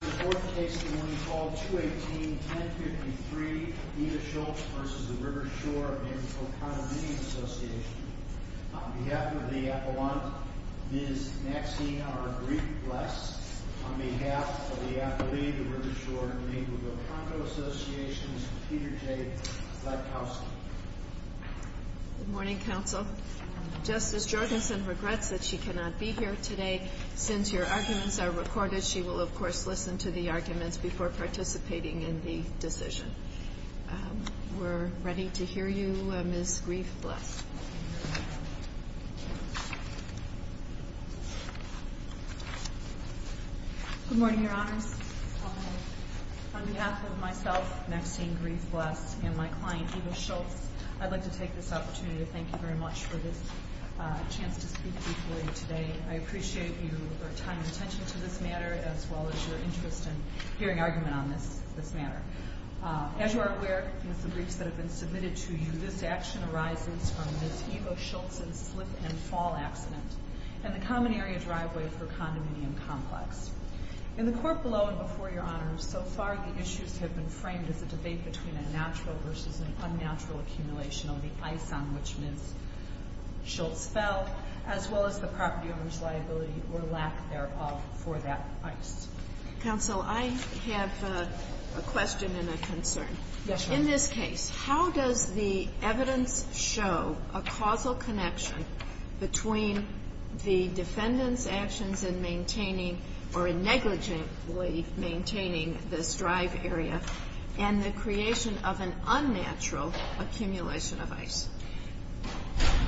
In the fourth case, the one called 218-1053, Edith Schultz v. The River Shore of Naperville Condominium Association. On behalf of the Appellant, Ms. Maxine R. Greek-Bless. On behalf of the Appellee, The River Shore of Naperville Condominium Association, Mr. Peter J. Blackowski. Good morning, Counsel. Justice Jorgensen regrets that she cannot be here today. Since your arguments are recorded, she will of course listen to the arguments before participating in the decision. We're ready to hear you, Ms. Greek-Bless. Good morning, Your Honors. On behalf of myself, Maxine Greek-Bless, and my client, Edith Schultz, I'd like to take this opportunity to thank you very much for this chance to speak before you today. I appreciate your time and attention to this matter, as well as your interest in hearing argument on this matter. As you are aware, with the briefs that have been submitted to you, this action arises from Ms. Eva Schultz's slip-and-fall accident in the Common Area driveway of her condominium complex. In the court below and before Your Honors, so far the issues have been framed as a debate between a natural versus an unnatural accumulation of the ice on which Ms. Schultz fell, as well as the property owner's liability or lack thereof for that ice. Counsel, I have a question and a concern. Yes, Your Honor. In this case, how does the evidence show a causal connection between the defendant's actions in maintaining or negligently maintaining this drive area and the creation of an unnatural accumulation of ice?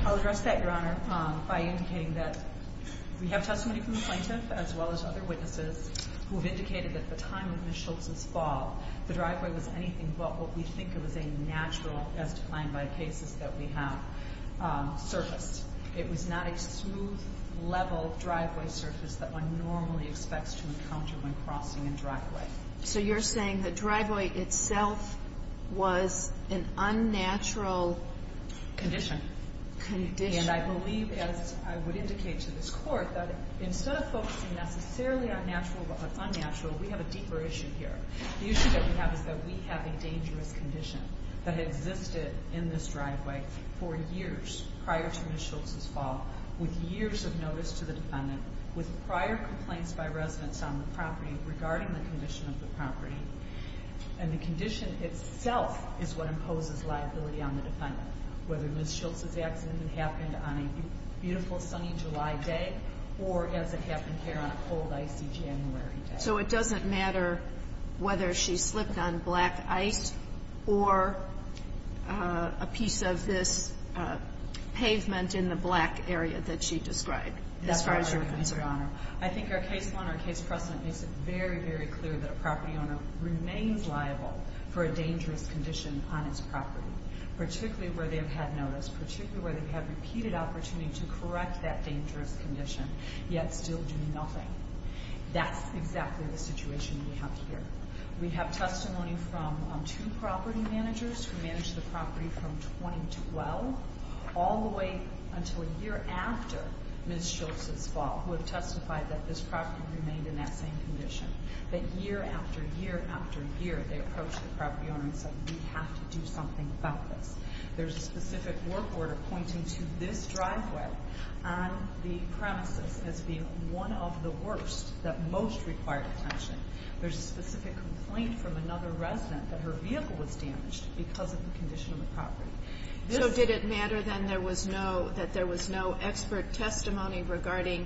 I'll address that, Your Honor, by indicating that we have testimony from the plaintiff, as well as other witnesses, who have indicated that at the time of Ms. Schultz's fall, the driveway was anything but what we think is a natural, as defined by the cases that we have, surface. It was not a smooth, level driveway surface that one normally expects to encounter when crossing a driveway. So you're saying the driveway itself was an unnatural... Condition. Condition. And I believe, as I would indicate to this Court, that instead of focusing necessarily on natural versus unnatural, we have a deeper issue here. The issue that we have is that we have a dangerous condition that existed in this driveway for years prior to Ms. Schultz's fall, with years of notice to the defendant, with prior complaints by residents on the property regarding the condition of the property. And the condition itself is what imposes liability on the defendant, whether Ms. Schultz's accident happened on a beautiful, sunny July day or as it happened here on a cold, icy January day. So it doesn't matter whether she slipped on black ice or a piece of this pavement in the black area that she described, as far as your concern. I think our case plan, our case precedent, makes it very, very clear that a property owner remains liable for a dangerous condition on its property, particularly where they've had notice, particularly where they've had repeated opportunity to correct that dangerous condition, yet still do nothing. That's exactly the situation we have here. We have testimony from two property managers who managed the property from 2012 all the way until a year after Ms. Schultz's fall, who have testified that this property remained in that same condition. But year after year after year, they approached the property owner and said, we have to do something about this. There's a specific work order pointing to this driveway on the premises as being one of the worst that most required attention. There's a specific complaint from another resident that her vehicle was damaged because of the condition of the property. So did it matter then that there was no expert testimony regarding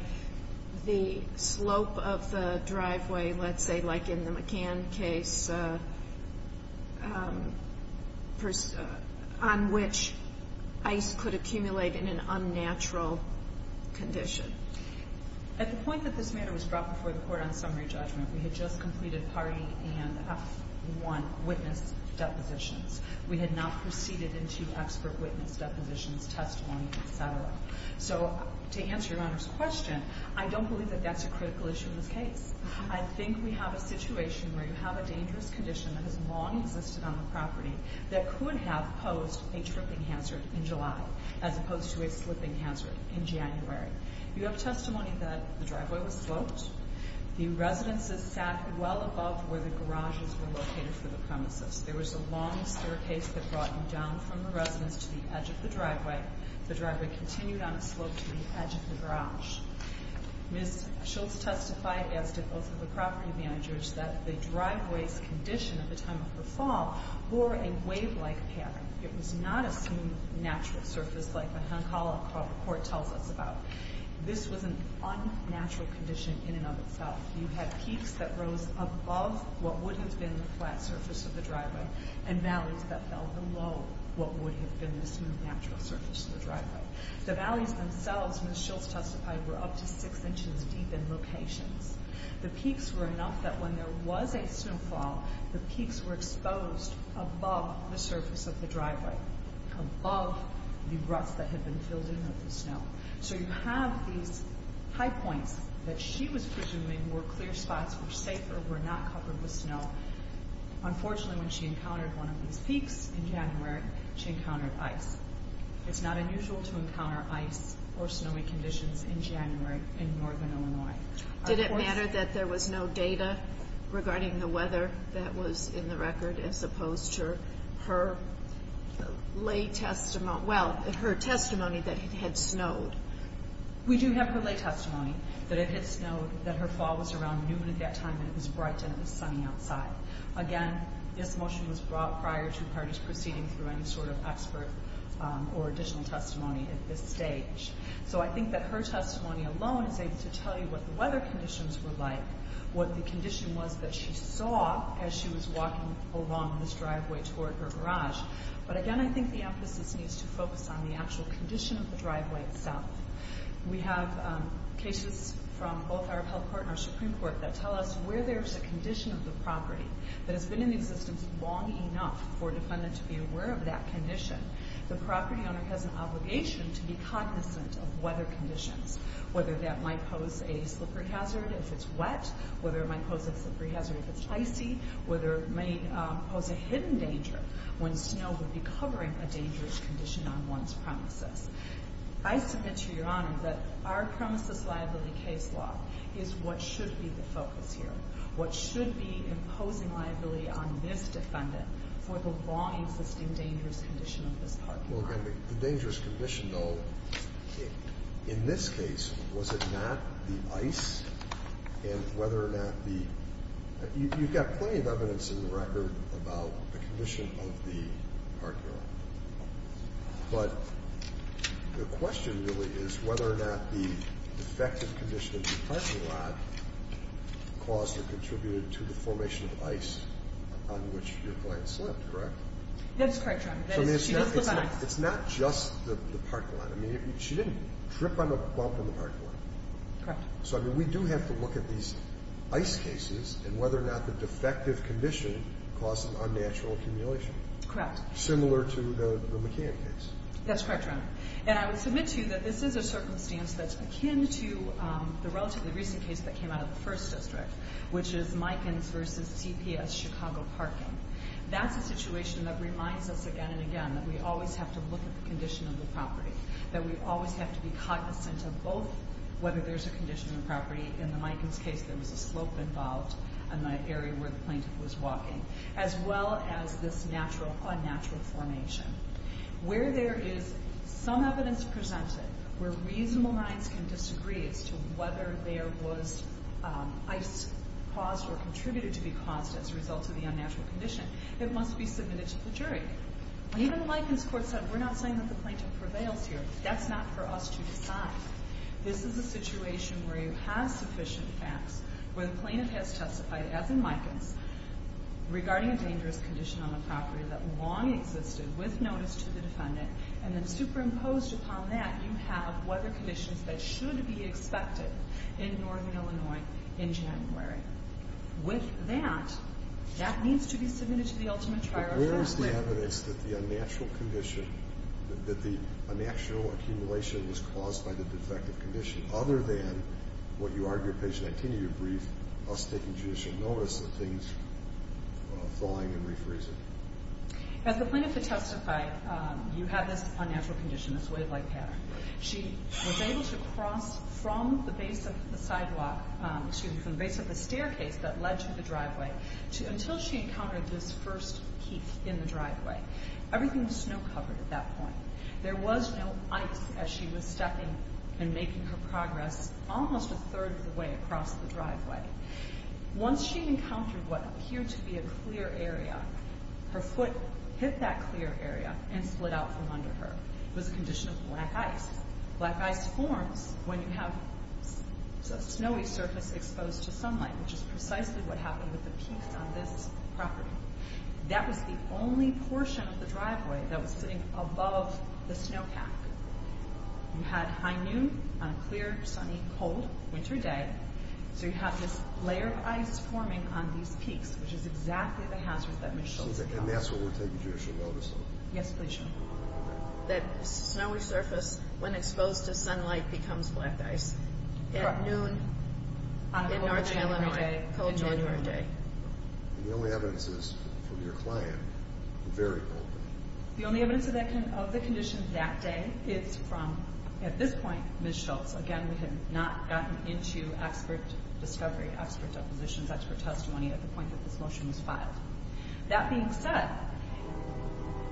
the slope of the driveway, let's say like in the McCann case, on which ice could accumulate in an unnatural condition? At the point that this matter was brought before the court on summary judgment, we had just completed party and F1 witness depositions. We had not proceeded into expert witness depositions, testimony, etc. So to answer your Honor's question, I don't believe that that's a critical issue in this case. I think we have a situation where you have a dangerous condition that has long existed on the property that could have posed a tripping hazard in July as opposed to a slipping hazard in January. You have testimony that the driveway was sloped. The residences sat well above where the garages were located for the premises. There was a long staircase that brought you down from the residence to the edge of the driveway. The driveway continued on a slope to the edge of the garage. Ms. Schultz testified, as did both of the property managers, that the driveway's condition at the time of her fall bore a wave-like pattern. It was not a smooth, natural surface like the Hancock Hall report tells us about. This was an unnatural condition in and of itself. You had peaks that rose above what would have been the flat surface of the driveway and valleys that fell below what would have been the smooth, natural surface of the driveway. The valleys themselves, Ms. Schultz testified, were up to 6 inches deep in locations. The peaks were enough that when there was a snowfall, the peaks were exposed above the surface of the driveway, above the ruts that had been filled in with the snow. So you have these high points that she was presuming were clear spots, were safer, were not covered with snow. Unfortunately, when she encountered one of these peaks in January, she encountered ice. It's not unusual to encounter ice or snowy conditions in January in northern Illinois. Did it matter that there was no data regarding the weather that was in the record as opposed to her testimony that it had snowed? We do have her lay testimony that it had snowed, that her fall was around noon at that time, and it was bright and it was sunny outside. Again, this motion was brought prior to her just proceeding through any sort of expert or additional testimony at this stage. So I think that her testimony alone is able to tell you what the weather conditions were like, what the condition was that she saw as she was walking along this driveway toward her garage. But again, I think the emphasis needs to focus on the actual condition of the driveway itself. We have cases from both our Appellate Court and our Supreme Court that tell us where there's a condition of the property that has been in existence long enough for a defendant to be aware of that condition. The property owner has an obligation to be cognizant of weather conditions, whether that might pose a slippery hazard if it's wet, whether it might pose a slippery hazard if it's icy, whether it may pose a hidden danger when snow would be covering a dangerous condition on one's premises. I submit to Your Honor that our premises liability case law is what should be the focus here, what should be imposing liability on this defendant for the long-existing dangerous condition of this parking lot. Well, again, the dangerous condition, though, in this case, was it not the ice and whether or not the... You've got plenty of evidence in the record about the condition of the parking lot. But the question really is whether or not the defective condition of the parking lot caused or contributed to the formation of ice on which your client slept, correct? That's correct, Your Honor. So, I mean, it's not just the parking lot. I mean, she didn't trip on a bump in the parking lot. Correct. So, I mean, we do have to look at these ice cases and whether or not the defective condition caused an unnatural accumulation. Correct. Similar to the McCann case. That's correct, Your Honor. And I would submit to you that this is a circumstance that's akin to the relatively recent case that came out of the 1st District, which is Mikens v. CPS Chicago Parking. That's a situation that reminds us again and again that we always have to look at the condition of the property, that we always have to be cognizant of both whether there's a condition of the property. In the Mikens case, there was a slope involved in the area where the plaintiff was walking, as well as this unnatural formation. Where there is some evidence presented where reasonable minds can disagree as to whether there was ice caused or contributed to be caused as a result of the unnatural condition, it must be submitted to the jury. Even the Mikens court said, we're not saying that the plaintiff prevails here. That's not for us to decide. This is a situation where you have sufficient facts, where the plaintiff has testified, as in Mikens, regarding a dangerous condition on the property that long existed with notice to the defendant, and then superimposed upon that, you have weather conditions that should be expected in northern Illinois in January. With that, that needs to be submitted to the ultimate trial. But where is the evidence that the unnatural condition, that the unnatural accumulation was caused by the defective condition, other than what you argue at page 19 of your brief, us taking judicial notice of things thawing and refreezing? As the plaintiff had testified, you have this unnatural condition, this wave-like pattern. She was able to cross from the base of the sidewalk, excuse me, from the base of the staircase that led to the driveway, until she encountered this first heap in the driveway. Everything was snow-covered at that point. There was no ice as she was stepping and making her progress almost a third of the way across the driveway. Once she encountered what appeared to be a clear area, her foot hit that clear area and split out from under her. It was a condition of black ice. Black ice forms when you have a snowy surface exposed to sunlight, which is precisely what happened with the piece on this property. That was the only portion of the driveway that was sitting above the snowpack. You had high noon on a clear, sunny, cold winter day, so you have this layer of ice forming on these peaks, which is exactly the hazard that Michelle is talking about. And that's what we're taking judicial notice of? Yes, please, Your Honor. That snowy surface, when exposed to sunlight, becomes black ice. Correct. At noon on a cold January day. And the only evidence is from your client, very cold. The only evidence of the condition that day is from, at this point, Ms. Schultz. Again, we have not gotten into expert discovery, expert depositions, expert testimony at the point that this motion was filed. That being said,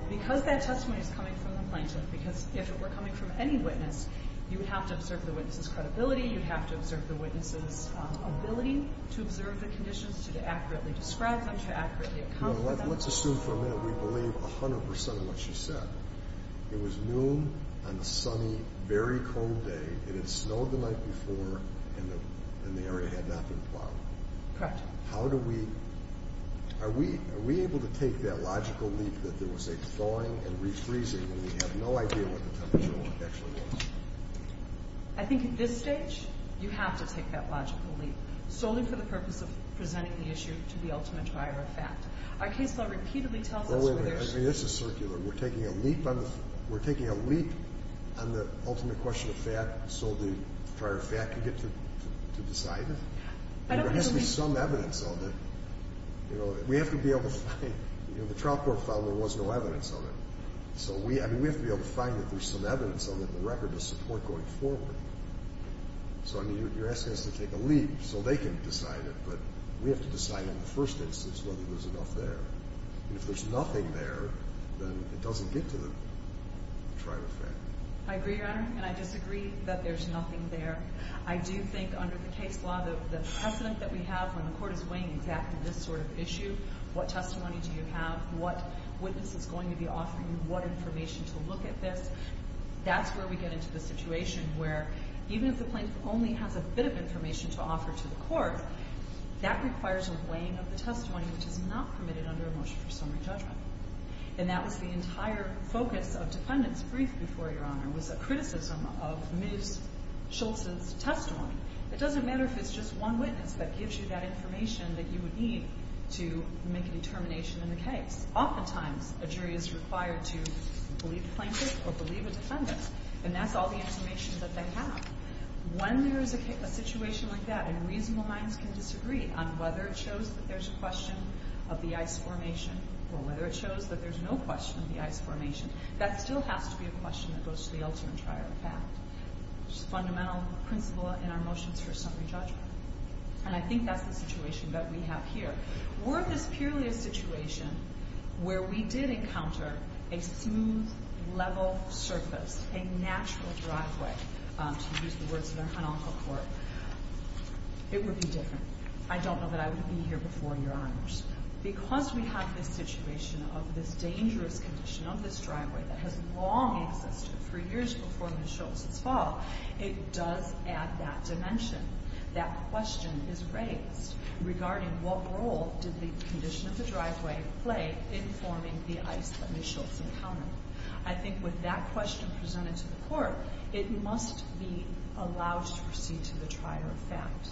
because that testimony is coming from the plaintiff, because if it were coming from any witness, you would have to observe the witness's credibility, you'd have to observe the witness's ability to observe the conditions, to accurately describe them, to accurately account for them. Let's assume for a minute we believe 100% of what she said. It was noon on a sunny, very cold day. It had snowed the night before, and the area had not been plowed. Correct. How do we, are we able to take that logical leap that there was a thawing and refreezing when we have no idea what the temperature actually was? I think at this stage, you have to take that logical leap, solely for the purpose of presenting the issue to the ultimate buyer of fact. Our case law repeatedly tells us where there should be. I mean, this is circular. We're taking a leap on the ultimate question of fact so the buyer of fact can get to decide it? There has to be some evidence of it. We have to be able to find, you know, the trial court filed, there was no evidence of it. So, I mean, we have to be able to find that there's some evidence of it in the record to support going forward. So, I mean, you're asking us to take a leap so they can decide it, but we have to decide in the first instance whether there's enough there. And if there's nothing there, then it doesn't get to the trial of fact. I agree, Your Honor, and I disagree that there's nothing there. I do think under the case law, the precedent that we have when the court is weighing exactly this sort of issue, what testimony do you have, what witness is going to be offering you, what information to look at this, that's where we get into the situation where even if the plaintiff only has a bit of information to offer to the court, that requires a weighing of the testimony which is not permitted under a motion for summary judgment. And that was the entire focus of defendants' brief before, Your Honor, was a criticism of Ms. Schultz's testimony. It doesn't matter if it's just one witness that gives you that information that you would need to make a determination in the case. Oftentimes, a jury is required to believe the plaintiff or believe a defendant, and that's all the information that they have. When there is a situation like that, and reasonable minds can disagree on whether it shows that there's a question of the ICE formation or whether it shows that there's no question of the ICE formation, that still has to be a question that goes to the ultimate trial of fact, which is a fundamental principle in our motions for summary judgment. And I think that's the situation that we have here. Worth is purely a situation where we did encounter a smooth, level surface, a natural driveway, to use the words of our Honorable Court. It would be different. I don't know that I would be here before Your Honors. Because we have this situation of this dangerous condition of this driveway that has long existed for years before Ms. Schultz's fall, it does add that dimension. That question is raised regarding what role did the condition of the driveway play in forming the ICE that Ms. Schultz encountered. I think with that question presented to the Court, it must be allowed to proceed to the trial of fact.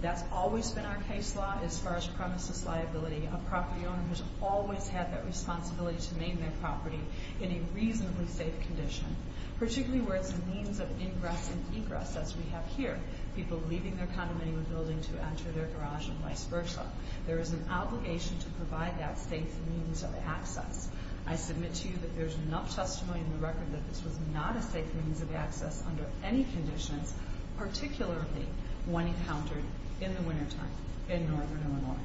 That's always been our case law as far as premises liability. A property owner has always had that responsibility to maintain their property in a reasonably safe condition, particularly where it's a means of ingress and egress, as we have here, people leaving their condominium building to enter their garage and vice versa. There is an obligation to provide that safe means of access. I submit to you that there's enough testimony in the record that this was not a safe means of access under any conditions, particularly when encountered in the wintertime in Northern Illinois.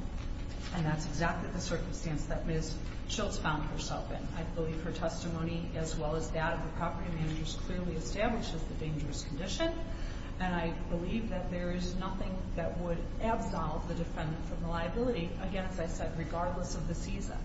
And that's exactly the circumstance that Ms. Schultz found herself in. I believe her testimony, as well as that of the property managers, clearly establishes the dangerous condition. And I believe that there is nothing that would absolve the defendant from the liability, again, as I said, regardless of the season.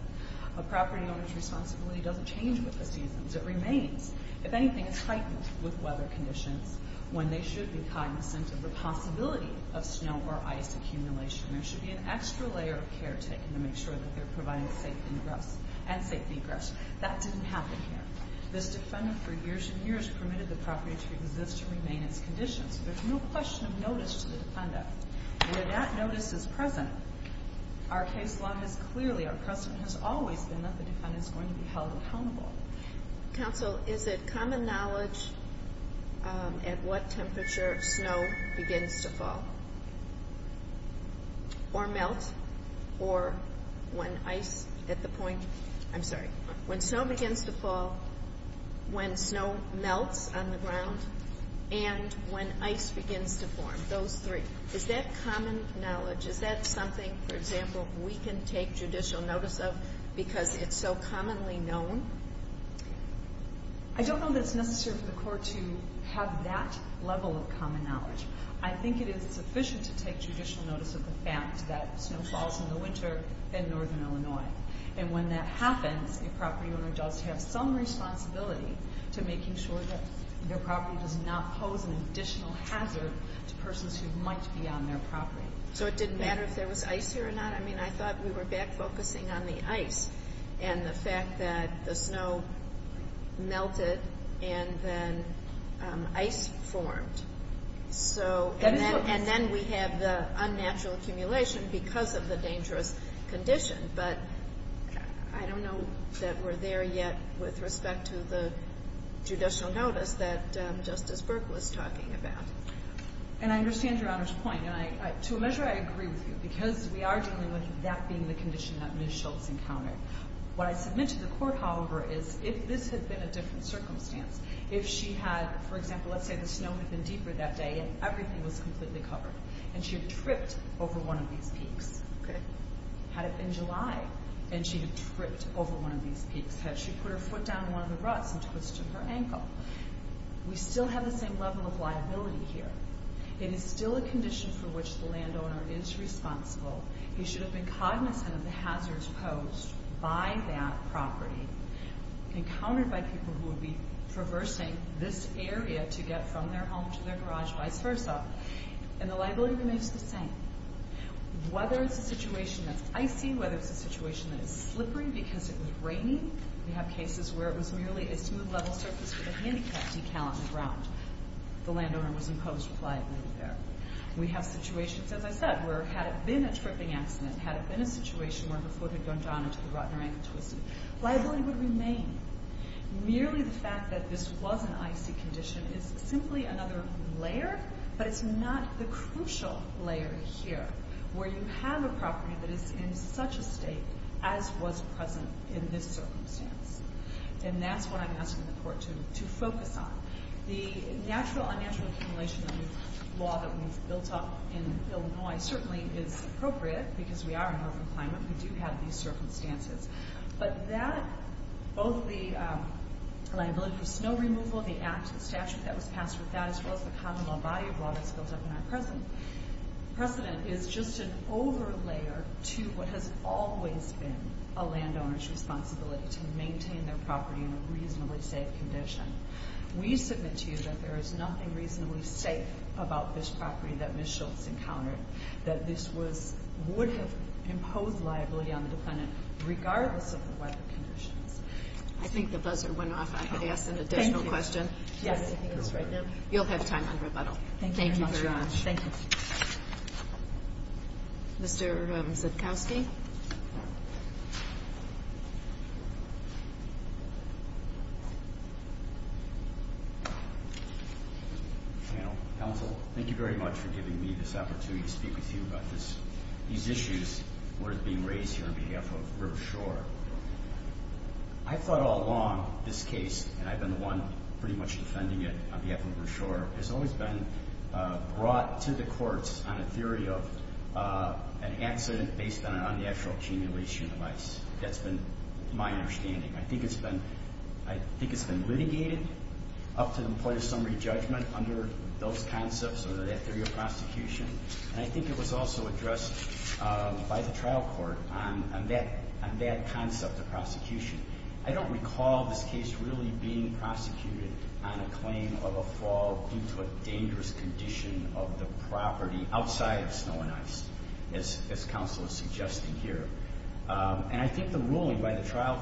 A property owner's responsibility doesn't change with the seasons. It remains. If anything, it's heightened with weather conditions when they should be cognizant of the possibility of snow or ice accumulation. There should be an extra layer of care taken to make sure that they're providing safe ingress and safe egress. That didn't happen here. This defendant, for years and years, permitted the property to exist and remain in its condition, so there's no question of notice to the defendant. Where that notice is present, our case law has clearly, our precedent has always been that the defendant is going to be held accountable. Counsel, is it common knowledge at what temperature snow begins to fall or melt or when ice at the point, I'm sorry, when snow begins to fall, when snow melts on the ground, and when ice begins to form? Those three. Is that common knowledge? Is that something, for example, we can take judicial notice of because it's so commonly known? I don't know that it's necessary for the court to have that level of common knowledge. I think it is sufficient to take judicial notice of the fact that snow falls in the winter in northern Illinois, and when that happens, a property owner does have some responsibility to making sure that their property does not pose an additional hazard to persons who might be on their property. So it didn't matter if there was ice here or not? I mean, I thought we were back focusing on the ice and the fact that the snow melted and then ice formed. And then we have the unnatural accumulation because of the dangerous condition, but I don't know that we're there yet with respect to the judicial notice that Justice Burke was talking about. And I understand Your Honor's point, and to a measure I agree with you because we are dealing with that being the condition that Ms. Schultz encountered. What I submit to the court, however, is if this had been a different circumstance, if she had, for example, let's say the snow had been deeper that day and everything was completely covered, and she had tripped over one of these peaks, had it been July, and she had tripped over one of these peaks, had she put her foot down in one of the ruts and twisted her ankle, we still have the same level of liability here. It is still a condition for which the landowner is responsible. He should have been cognizant of the hazards posed by that property, encountered by people who would be traversing this area to get from their home to their garage, vice versa. And the liability remains the same. Whether it's a situation that's icy, whether it's a situation that is slippery because it was raining. We have cases where it was merely a smooth level surface with a handicapped decal on the ground. The landowner was imposed liability there. We have situations, as I said, where had it been a tripping accident, had it been a situation where her foot had gone down into the rut and her ankle twisted, liability would remain. Merely the fact that this was an icy condition is simply another layer, but it's not the crucial layer here where you have a property that is in such a state as was present in this circumstance. And that's what I'm asking the court to focus on. The natural-unnatural accumulation law that we've built up in Illinois certainly is appropriate because we are in an open climate. We do have these circumstances. But that, both the liability for snow removal, the act, the statute that was passed with that, as well as the common law body of law that's built up in our present, precedent is just an over-layer to what has always been a landowner's responsibility to maintain their property in a reasonably safe condition. We submit to you that there is nothing reasonably safe about this property that Ms. Schultz encountered, that this would have imposed liability on the defendant regardless of the weather conditions. I think the buzzer went off. I'm going to ask an additional question. You'll have time on rebuttal. Thank you very much. Thank you. Mr. Zitkowski. Counsel, thank you very much for giving me this opportunity to speak with you about these issues worth being raised here on behalf of River Shore. I've thought all along this case, and I've been the one pretty much defending it on behalf of River Shore, has always been brought to the courts on a theory of an accident based on an unnatural accumulation of ice. That's been my understanding. I think it's been litigated up to the point of summary judgment under those concepts or that theory of prosecution, and I think it was also addressed by the trial court on that concept of prosecution. I don't recall this case really being prosecuted on a claim of a fall due to a dangerous condition of the property outside of snow and ice, as counsel is suggesting here. And I think the ruling by the trial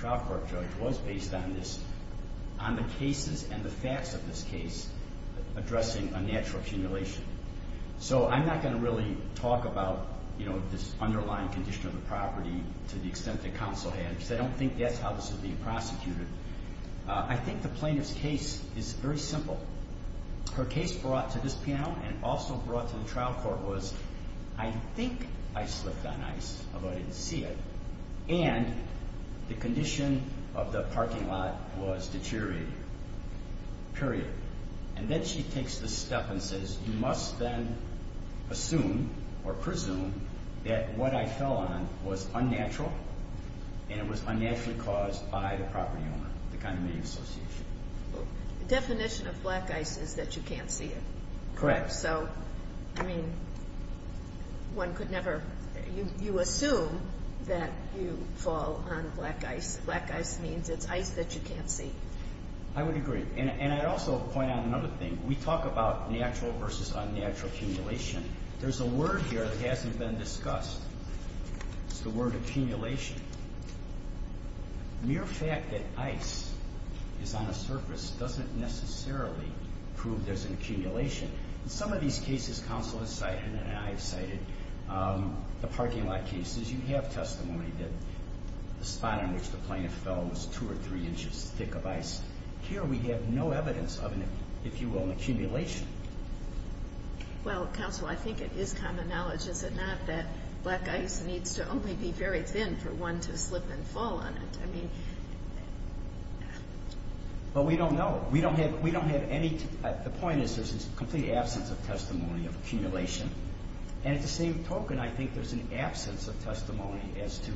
court judge was based on the cases and the facts of this case addressing unnatural accumulation. So I'm not going to really talk about this underlying condition of the property to the extent that counsel had, because I don't think that's how this is being prosecuted. I think the plaintiff's case is very simple. Her case brought to this panel and also brought to the trial court was, I think I slipped on ice, although I didn't see it, and the condition of the parking lot was deteriorating, period. And then she takes this step and says, you must then assume or presume that what I fell on was unnatural and it was unnaturally caused by the property owner, the condominium association. The definition of black ice is that you can't see it. Correct. So, I mean, one could never, you assume that you fall on black ice. Black ice means it's ice that you can't see. I would agree. And I'd also point out another thing. We talk about natural versus unnatural accumulation. There's a word here that hasn't been discussed. It's the word accumulation. Mere fact that ice is on a surface doesn't necessarily prove there's an accumulation. In some of these cases counsel has cited and I have cited, the parking lot cases, you have testimony that the spot on which the plaintiff fell was two or three inches thick of ice. Here we have no evidence of, if you will, an accumulation. Well, counsel, I think it is common knowledge, is it not, that black ice needs to only be very thin for one to slip and fall on it. Well, we don't know. We don't have any. The point is there's a complete absence of testimony of accumulation. And at the same token, I think there's an absence of testimony as to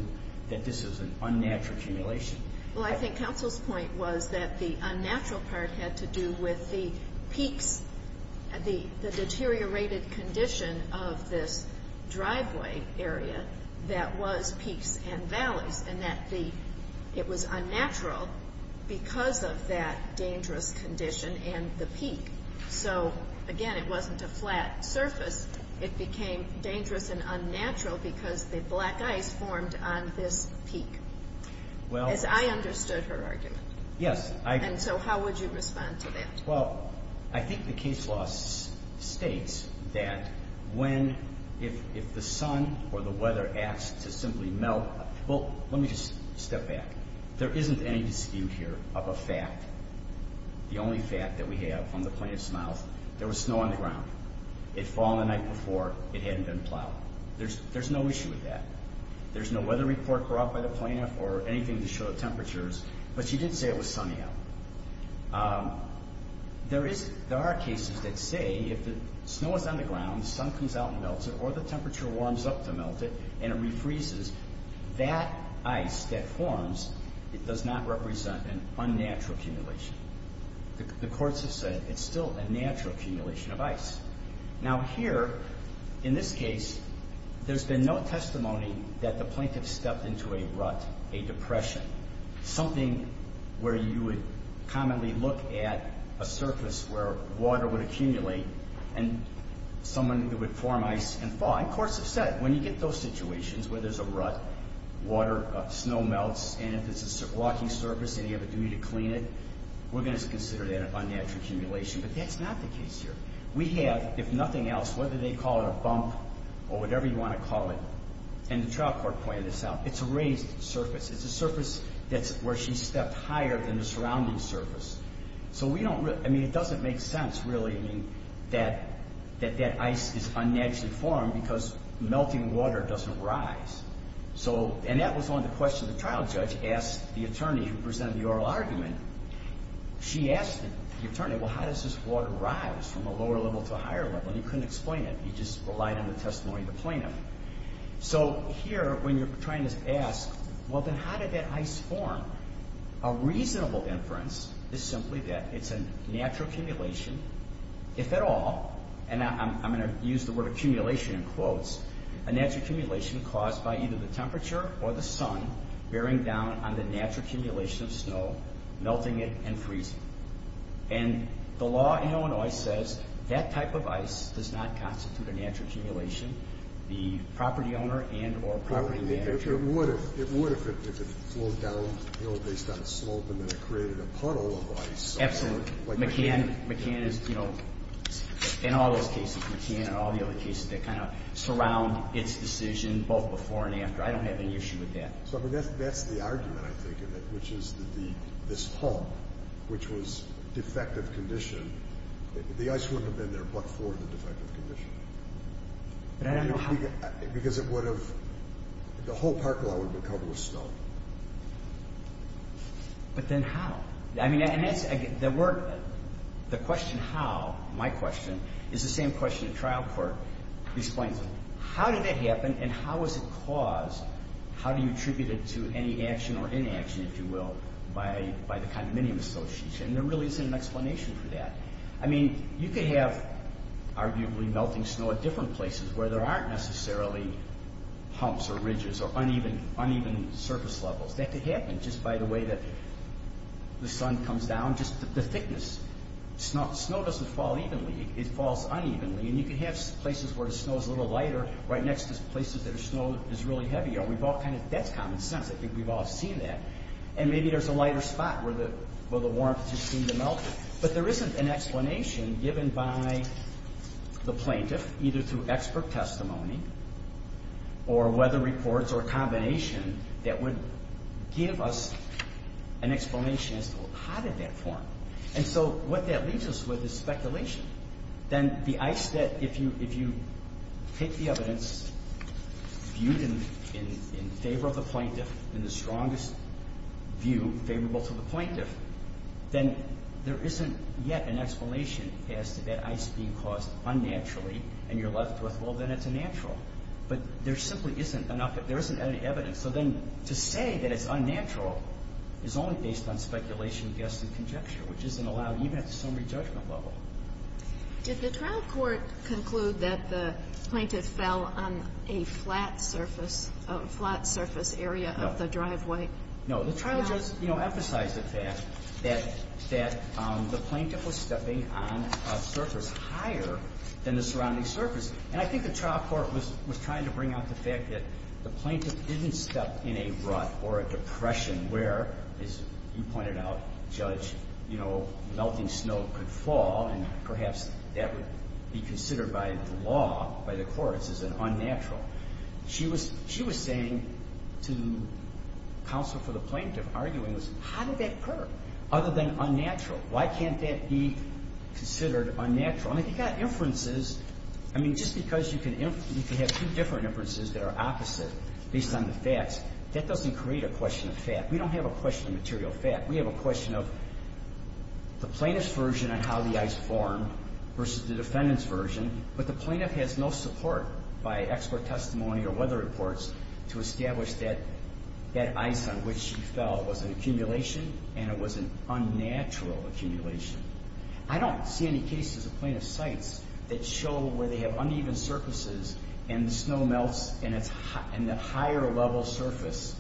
that this is an unnatural accumulation. Well, I think counsel's point was that the unnatural part had to do with the peaks, the deteriorated condition of this driveway area that was peaks and valleys, and that it was unnatural because of that dangerous condition and the peak. So, again, it wasn't a flat surface. It became dangerous and unnatural because the black ice formed on this peak. As I understood her argument. Yes. And so how would you respond to that? Well, I think the case law states that if the sun or the weather asks to simply melt. Well, let me just step back. There isn't any dispute here of a fact. The only fact that we have from the plaintiff's mouth, there was snow on the ground. It had fallen the night before. It hadn't been plowed. There's no issue with that. There's no weather report brought by the plaintiff or anything to show the temperatures. But she did say it was sunny out. There are cases that say if the snow is on the ground, the sun comes out and melts it, or the temperature warms up to melt it and it refreezes, that ice that forms, it does not represent an unnatural accumulation. The courts have said it's still a natural accumulation of ice. Now, here, in this case, there's been no testimony that the plaintiff stepped into a rut, a depression. Something where you would commonly look at a surface where water would accumulate and someone who would form ice and fall. And courts have said when you get those situations where there's a rut, water, snow melts, and if it's a walking surface and you have a duty to clean it, we're going to consider that an unnatural accumulation. But that's not the case here. We have, if nothing else, whether they call it a bump or whatever you want to call it, and the trial court pointed this out, it's a raised surface. It's a surface where she stepped higher than the surrounding surface. So we don't really, I mean, it doesn't make sense, really, that that ice is unnaturally formed because melting water doesn't rise. And that was on the question the trial judge asked the attorney who presented the oral argument. She asked the attorney, well, how does this water rise from a lower level to a higher level? And he couldn't explain it. He just relied on the testimony of the plaintiff. So here, when you're trying to ask, well, then how did that ice form? A reasonable inference is simply that it's a natural accumulation, if at all, and I'm going to use the word accumulation in quotes, a natural accumulation caused by either the temperature or the sun bearing down on the natural accumulation of snow, melting it, and freezing it. And the law in Illinois says that type of ice does not constitute a natural accumulation. The property owner and or property manager. It would if it flowed down based on slope and then it created a puddle of ice. Absolutely. McCann is, you know, in all those cases, McCann and all the other cases that kind of surround its decision both before and after. I don't have any issue with that. So that's the argument, I think, of it, which is that this hull, which was defective condition, the ice wouldn't have been there but for the defective condition. But I don't know how. Because it would have, the whole park lot would have been covered with snow. But then how? I mean, and that's, there were, the question how, my question, is the same question the trial court explains. How did that happen and how was it caused? How do you attribute it to any action or inaction, if you will, by the condominium association? And there really isn't an explanation for that. I mean, you could have arguably melting snow at different places where there aren't necessarily humps or ridges or uneven surface levels. That could happen just by the way that the sun comes down, just the thickness. Snow doesn't fall evenly. It falls unevenly. And you could have places where the snow is a little lighter right next to places where the snow is really heavier. We've all kind of, that's common sense. I think we've all seen that. And maybe there's a lighter spot where the warmth just seemed to melt. But there isn't an explanation given by the plaintiff, either through expert testimony or weather reports or combination, that would give us an explanation as to how did that form. And so what that leaves us with is speculation. Then the ice that, if you take the evidence viewed in favor of the plaintiff and the strongest view favorable to the plaintiff, then there isn't yet an explanation as to that ice being caused unnaturally and you're left with, well, then it's a natural. But there simply isn't enough, there isn't any evidence. So then to say that it's unnatural is only based on speculation, guess, and conjecture, which isn't allowed even at the summary judgment level. Did the trial court conclude that the plaintiff fell on a flat surface, a flat surface area of the driveway? No, the trial just emphasized the fact that the plaintiff was stepping on a surface higher than the surrounding surface. And I think the trial court was trying to bring out the fact that the plaintiff didn't step in a rut or a depression where, as you pointed out, Judge, you know, melting snow could fall and perhaps that would be considered by the law, by the courts as an unnatural. She was saying to counsel for the plaintiff, arguing, how did that occur other than unnatural? Why can't that be considered unnatural? And if you've got inferences, I mean, just because you can have two different inferences that are opposite based on the facts, that doesn't create a question of fact. We don't have a question of material fact. We have a question of the plaintiff's version on how the ice formed versus the defendant's version. But the plaintiff has no support by expert testimony or weather reports to establish that that ice on which she fell was an accumulation and it was an unnatural accumulation. I don't see any cases of plaintiff's sites that show where they have uneven surfaces and the snow melts in that higher level surface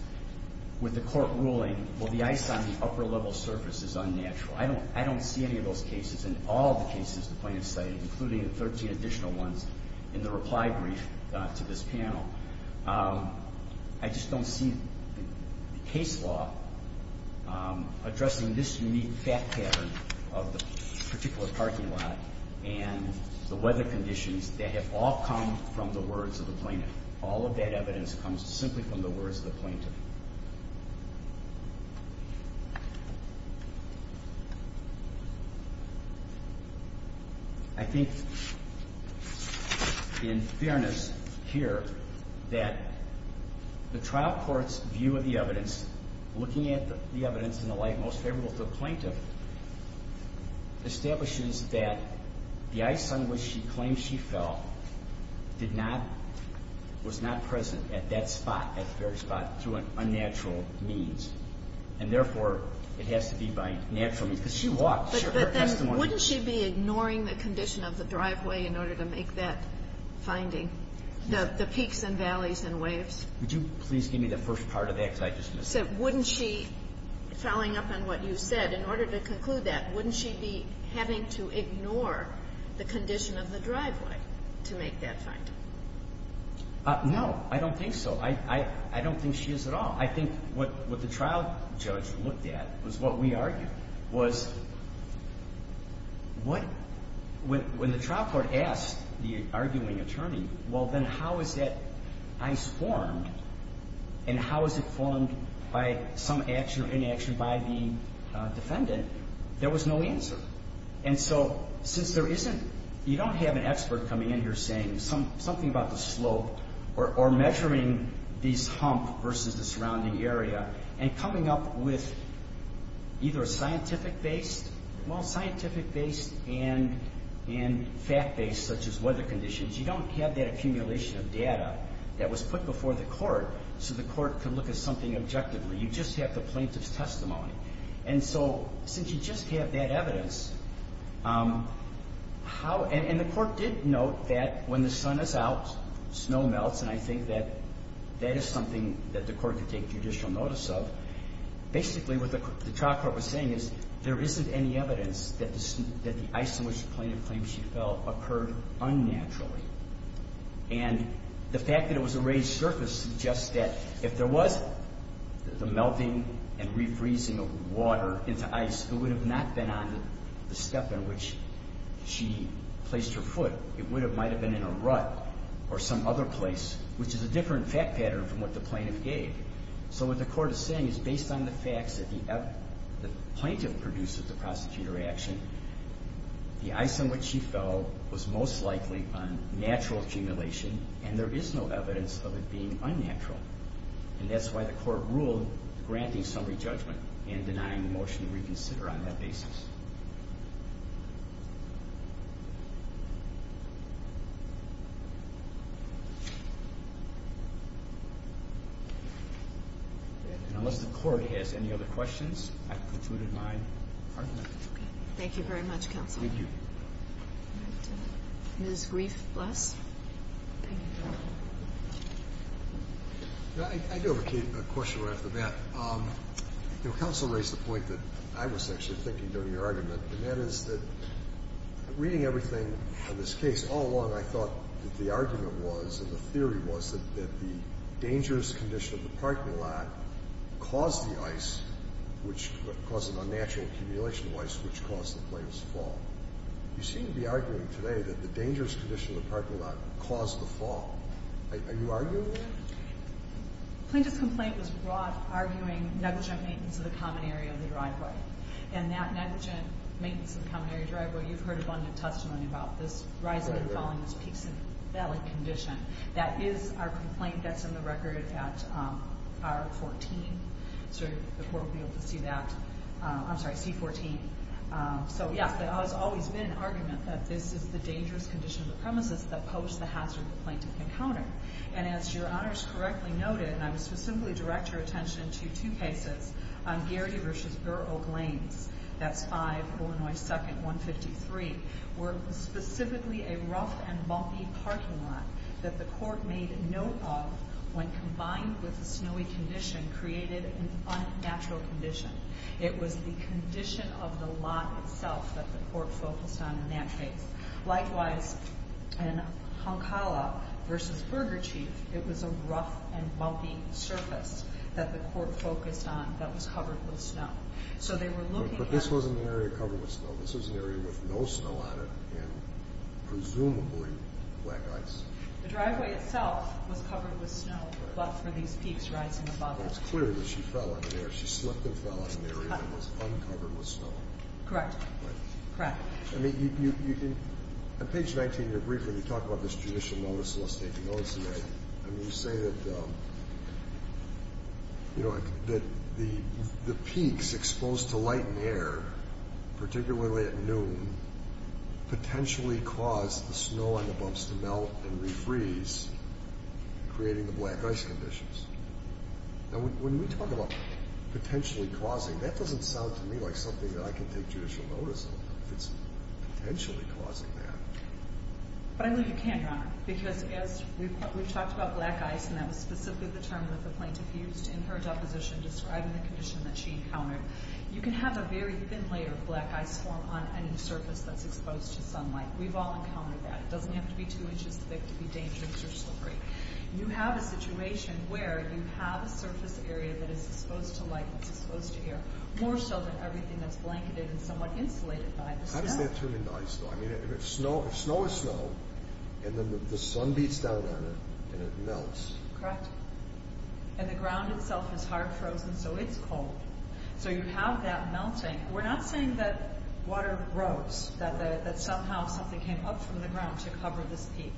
with the court ruling, well, the ice on the upper level surface is unnatural. I don't see any of those cases in all the cases the plaintiff cited, including the 13 additional ones in the reply brief to this panel. I just don't see the case law addressing this unique fact pattern of the particular parking lot and the weather conditions that have all come from the words of the plaintiff. All of that evidence comes simply from the words of the plaintiff. I think in fairness here that the trial court's view of the evidence, looking at the evidence in the light most favorable to the plaintiff, establishes that the ice on which she claims she fell did not, was not present at that spot, at the very spot, through unnatural means. And therefore, it has to be by natural means. Because she walked. She had her testimony. But then wouldn't she be ignoring the condition of the driveway in order to make that finding, the peaks and valleys and waves? Wouldn't she, following up on what you said, in order to conclude that, wouldn't she be having to ignore the condition of the driveway to make that finding? No. I don't think so. I don't think she is at all. I think what the trial judge looked at was what we argued, was when the trial court asked the arguing attorney, well, then how is that ice formed? And how is it formed by some action or inaction by the defendant? There was no answer. And so, since there isn't, you don't have an expert coming in here saying something about the slope or measuring these hump versus the surrounding area and coming up with either a scientific-based, well, scientific-based and fact-based, such as weather conditions. You don't have that accumulation of data that was put before the court so the court could look at something objectively. You just have the plaintiff's testimony. And so, since you just have that evidence, and the court did note that when the sun is out, snow melts, and I think that that is something that the court could take judicial notice of, basically what the trial court was saying is there isn't any evidence that the ice in which the plaintiff claims she fell occurred unnaturally. And the fact that it was a raised surface suggests that if there was the melting and refreezing of water into ice, it would have not been on the step in which she placed her foot. It might have been in a rut or some other place, which is a different fact pattern from what the plaintiff gave. So what the court is saying is based on the facts that the plaintiff produced at the prosecutor action, the ice in which she fell was most likely on natural accumulation, and there is no evidence of it being unnatural. And that's why the court ruled granting summary judgment and denying the motion to reconsider on that basis. And unless the court has any other questions, I've concluded my argument. Okay. Thank you very much, counsel. Thank you. Ms. Grief-Bless. I do have a question right off the bat. You know, counsel raised the point that I was actually thinking during your argument, and that is that reading everything in this case, all along I thought that the argument was and the theory was that the dangerous condition of the parking lot caused the ice, which caused an unnatural accumulation of ice, which caused the plaintiff's fall. You seem to be arguing today that the dangerous condition of the parking lot caused the fall. Are you arguing that? The plaintiff's complaint was brought arguing negligent maintenance of the common area of the driveway, and that negligent maintenance of the common area driveway, you've heard abundant testimony about this rising and falling, this peaks and valley condition. That is our complaint that's in the record at R14. So the court will be able to see that. I'm sorry, C14. So, yes, there has always been an argument that this is the dangerous condition of the premises that posed the hazard the plaintiff encountered. And as your honors correctly noted, and I would specifically direct your attention to two cases on Garrity v. Burr Oak Lanes, that's 5 Illinois 2nd, 153, were specifically a rough and bumpy parking lot that the court made note of when combined with the snowy condition created an unnatural condition. It was the condition of the lot itself that the court focused on in that case. Likewise, in Honcala v. Burger Chief, it was a rough and bumpy surface that the court focused on that was covered with snow. So they were looking at the snow. It was an area with no snow on it and presumably black ice. The driveway itself was covered with snow, but for these peaks rising above it. But it's clear that she fell in the air. She slipped and fell in an area that was uncovered with snow. Correct. Right. Correct. I mean, on page 19, you briefly talk about this judicial notice of a state denunciation. I mean, you say that the peaks exposed to light and air, particularly at noon, potentially caused the snow on the bumps to melt and refreeze, creating the black ice conditions. Now, when we talk about potentially causing, that doesn't sound to me like something that I can take judicial notice of. It's potentially causing that. But I believe you can, Your Honor, because as we've talked about black ice, and that was specifically the term that the plaintiff used in her deposition describing the condition that she encountered, you can have a very thin layer of black ice form on any surface that's exposed to sunlight. We've all encountered that. It doesn't have to be two inches thick to be dangerous or slippery. You have a situation where you have a surface area that is exposed to light and exposed to air, more so than everything that's blanketed and somewhat insulated by the snow. How does that turn into ice, though? I mean, if snow is snow, and then the sun beats down on it, and it melts. Correct. And the ground itself is hard frozen, so it's cold. So you have that melting. We're not saying that water rose, that somehow something came up from the ground to cover this peak.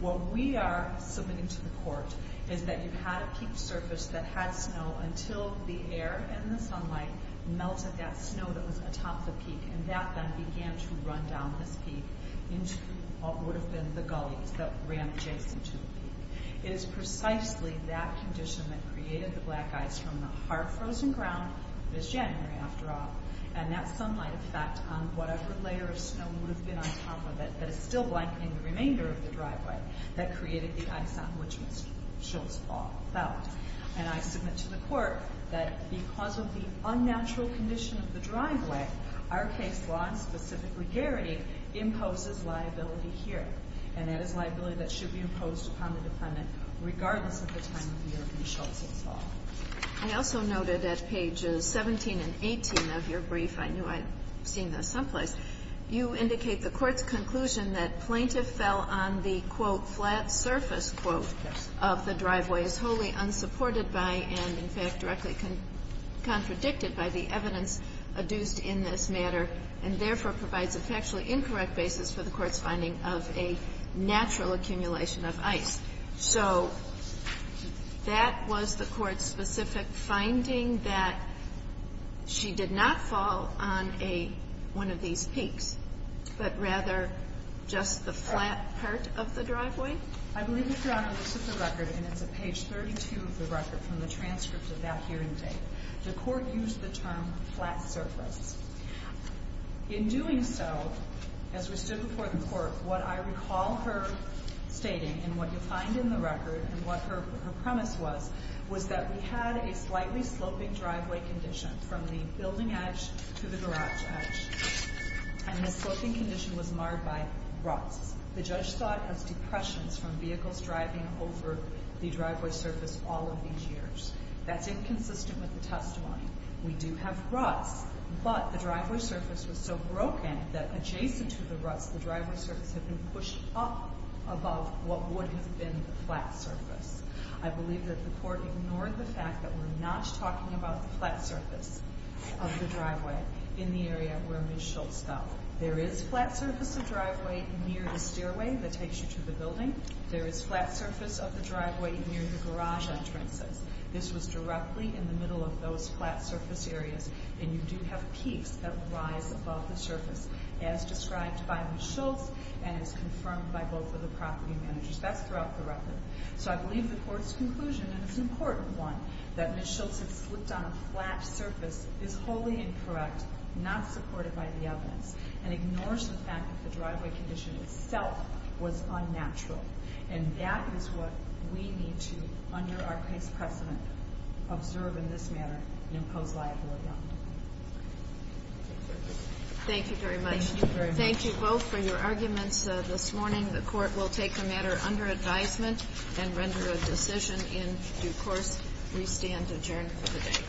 What we are submitting to the court is that you had a peak surface that had snow until the air and the sunlight melted that snow that was atop the peak, and that then began to run down this peak into what would have been the gullies that ran adjacent to the peak. It is precisely that condition that created the black ice from the hard frozen ground this January, after all. And that sunlight effect on whatever layer of snow would have been on top of it that is still blanketing the remainder of the driveway that created the ice on which Ms. Schultz fell. And I submit to the court that because of the unnatural condition of the driveway, our case law, and specifically Gary, imposes liability here. And that is liability that should be imposed upon the defendant regardless of the time of year Ms. Schultz fell. I also noted at pages 17 and 18 of your brief, I knew I'd seen this someplace, you indicate the court's conclusion that plaintiff fell on the, quote, and therefore provides a factually incorrect basis for the court's finding of a natural accumulation of ice. So that was the court's specific finding that she did not fall on a, one of these peaks, but rather just the flat part of the driveway? I believe, Your Honor, this is the record, and it's at page 32 of the record from the transcript of that hearing date. The court used the term flat surface. In doing so, as we stood before the court, what I recall her stating, and what you'll find in the record and what her premise was, was that we had a slightly sloping driveway condition from the building edge to the garage edge. And the sloping condition was marred by ruts. The judge thought of depressions from vehicles driving over the driveway surface all of these years. That's inconsistent with the testimony. We do have ruts, but the driveway surface was so broken that adjacent to the ruts, the driveway surface had been pushed up above what would have been the flat surface. I believe that the court ignored the fact that we're not talking about the flat surface of the driveway in the area where Ms. Schultz fell. There is flat surface of driveway near the stairway that takes you to the building. There is flat surface of the driveway near the garage entrances. This was directly in the middle of those flat surface areas, and you do have peaks that rise above the surface as described by Ms. Schultz and as confirmed by both of the property managers. That's throughout the record. So I believe the court's conclusion, and it's an important one, that Ms. Schultz had slipped on a flat surface is wholly incorrect, not supported by the evidence, and ignores the fact that the driveway condition itself was unnatural. And that is what we need to, under our case precedent, observe in this matter and impose liability on. Thank you very much. Thank you both for your arguments this morning. The court will take the matter under advisement and render a decision in due course. We stand adjourned for the day.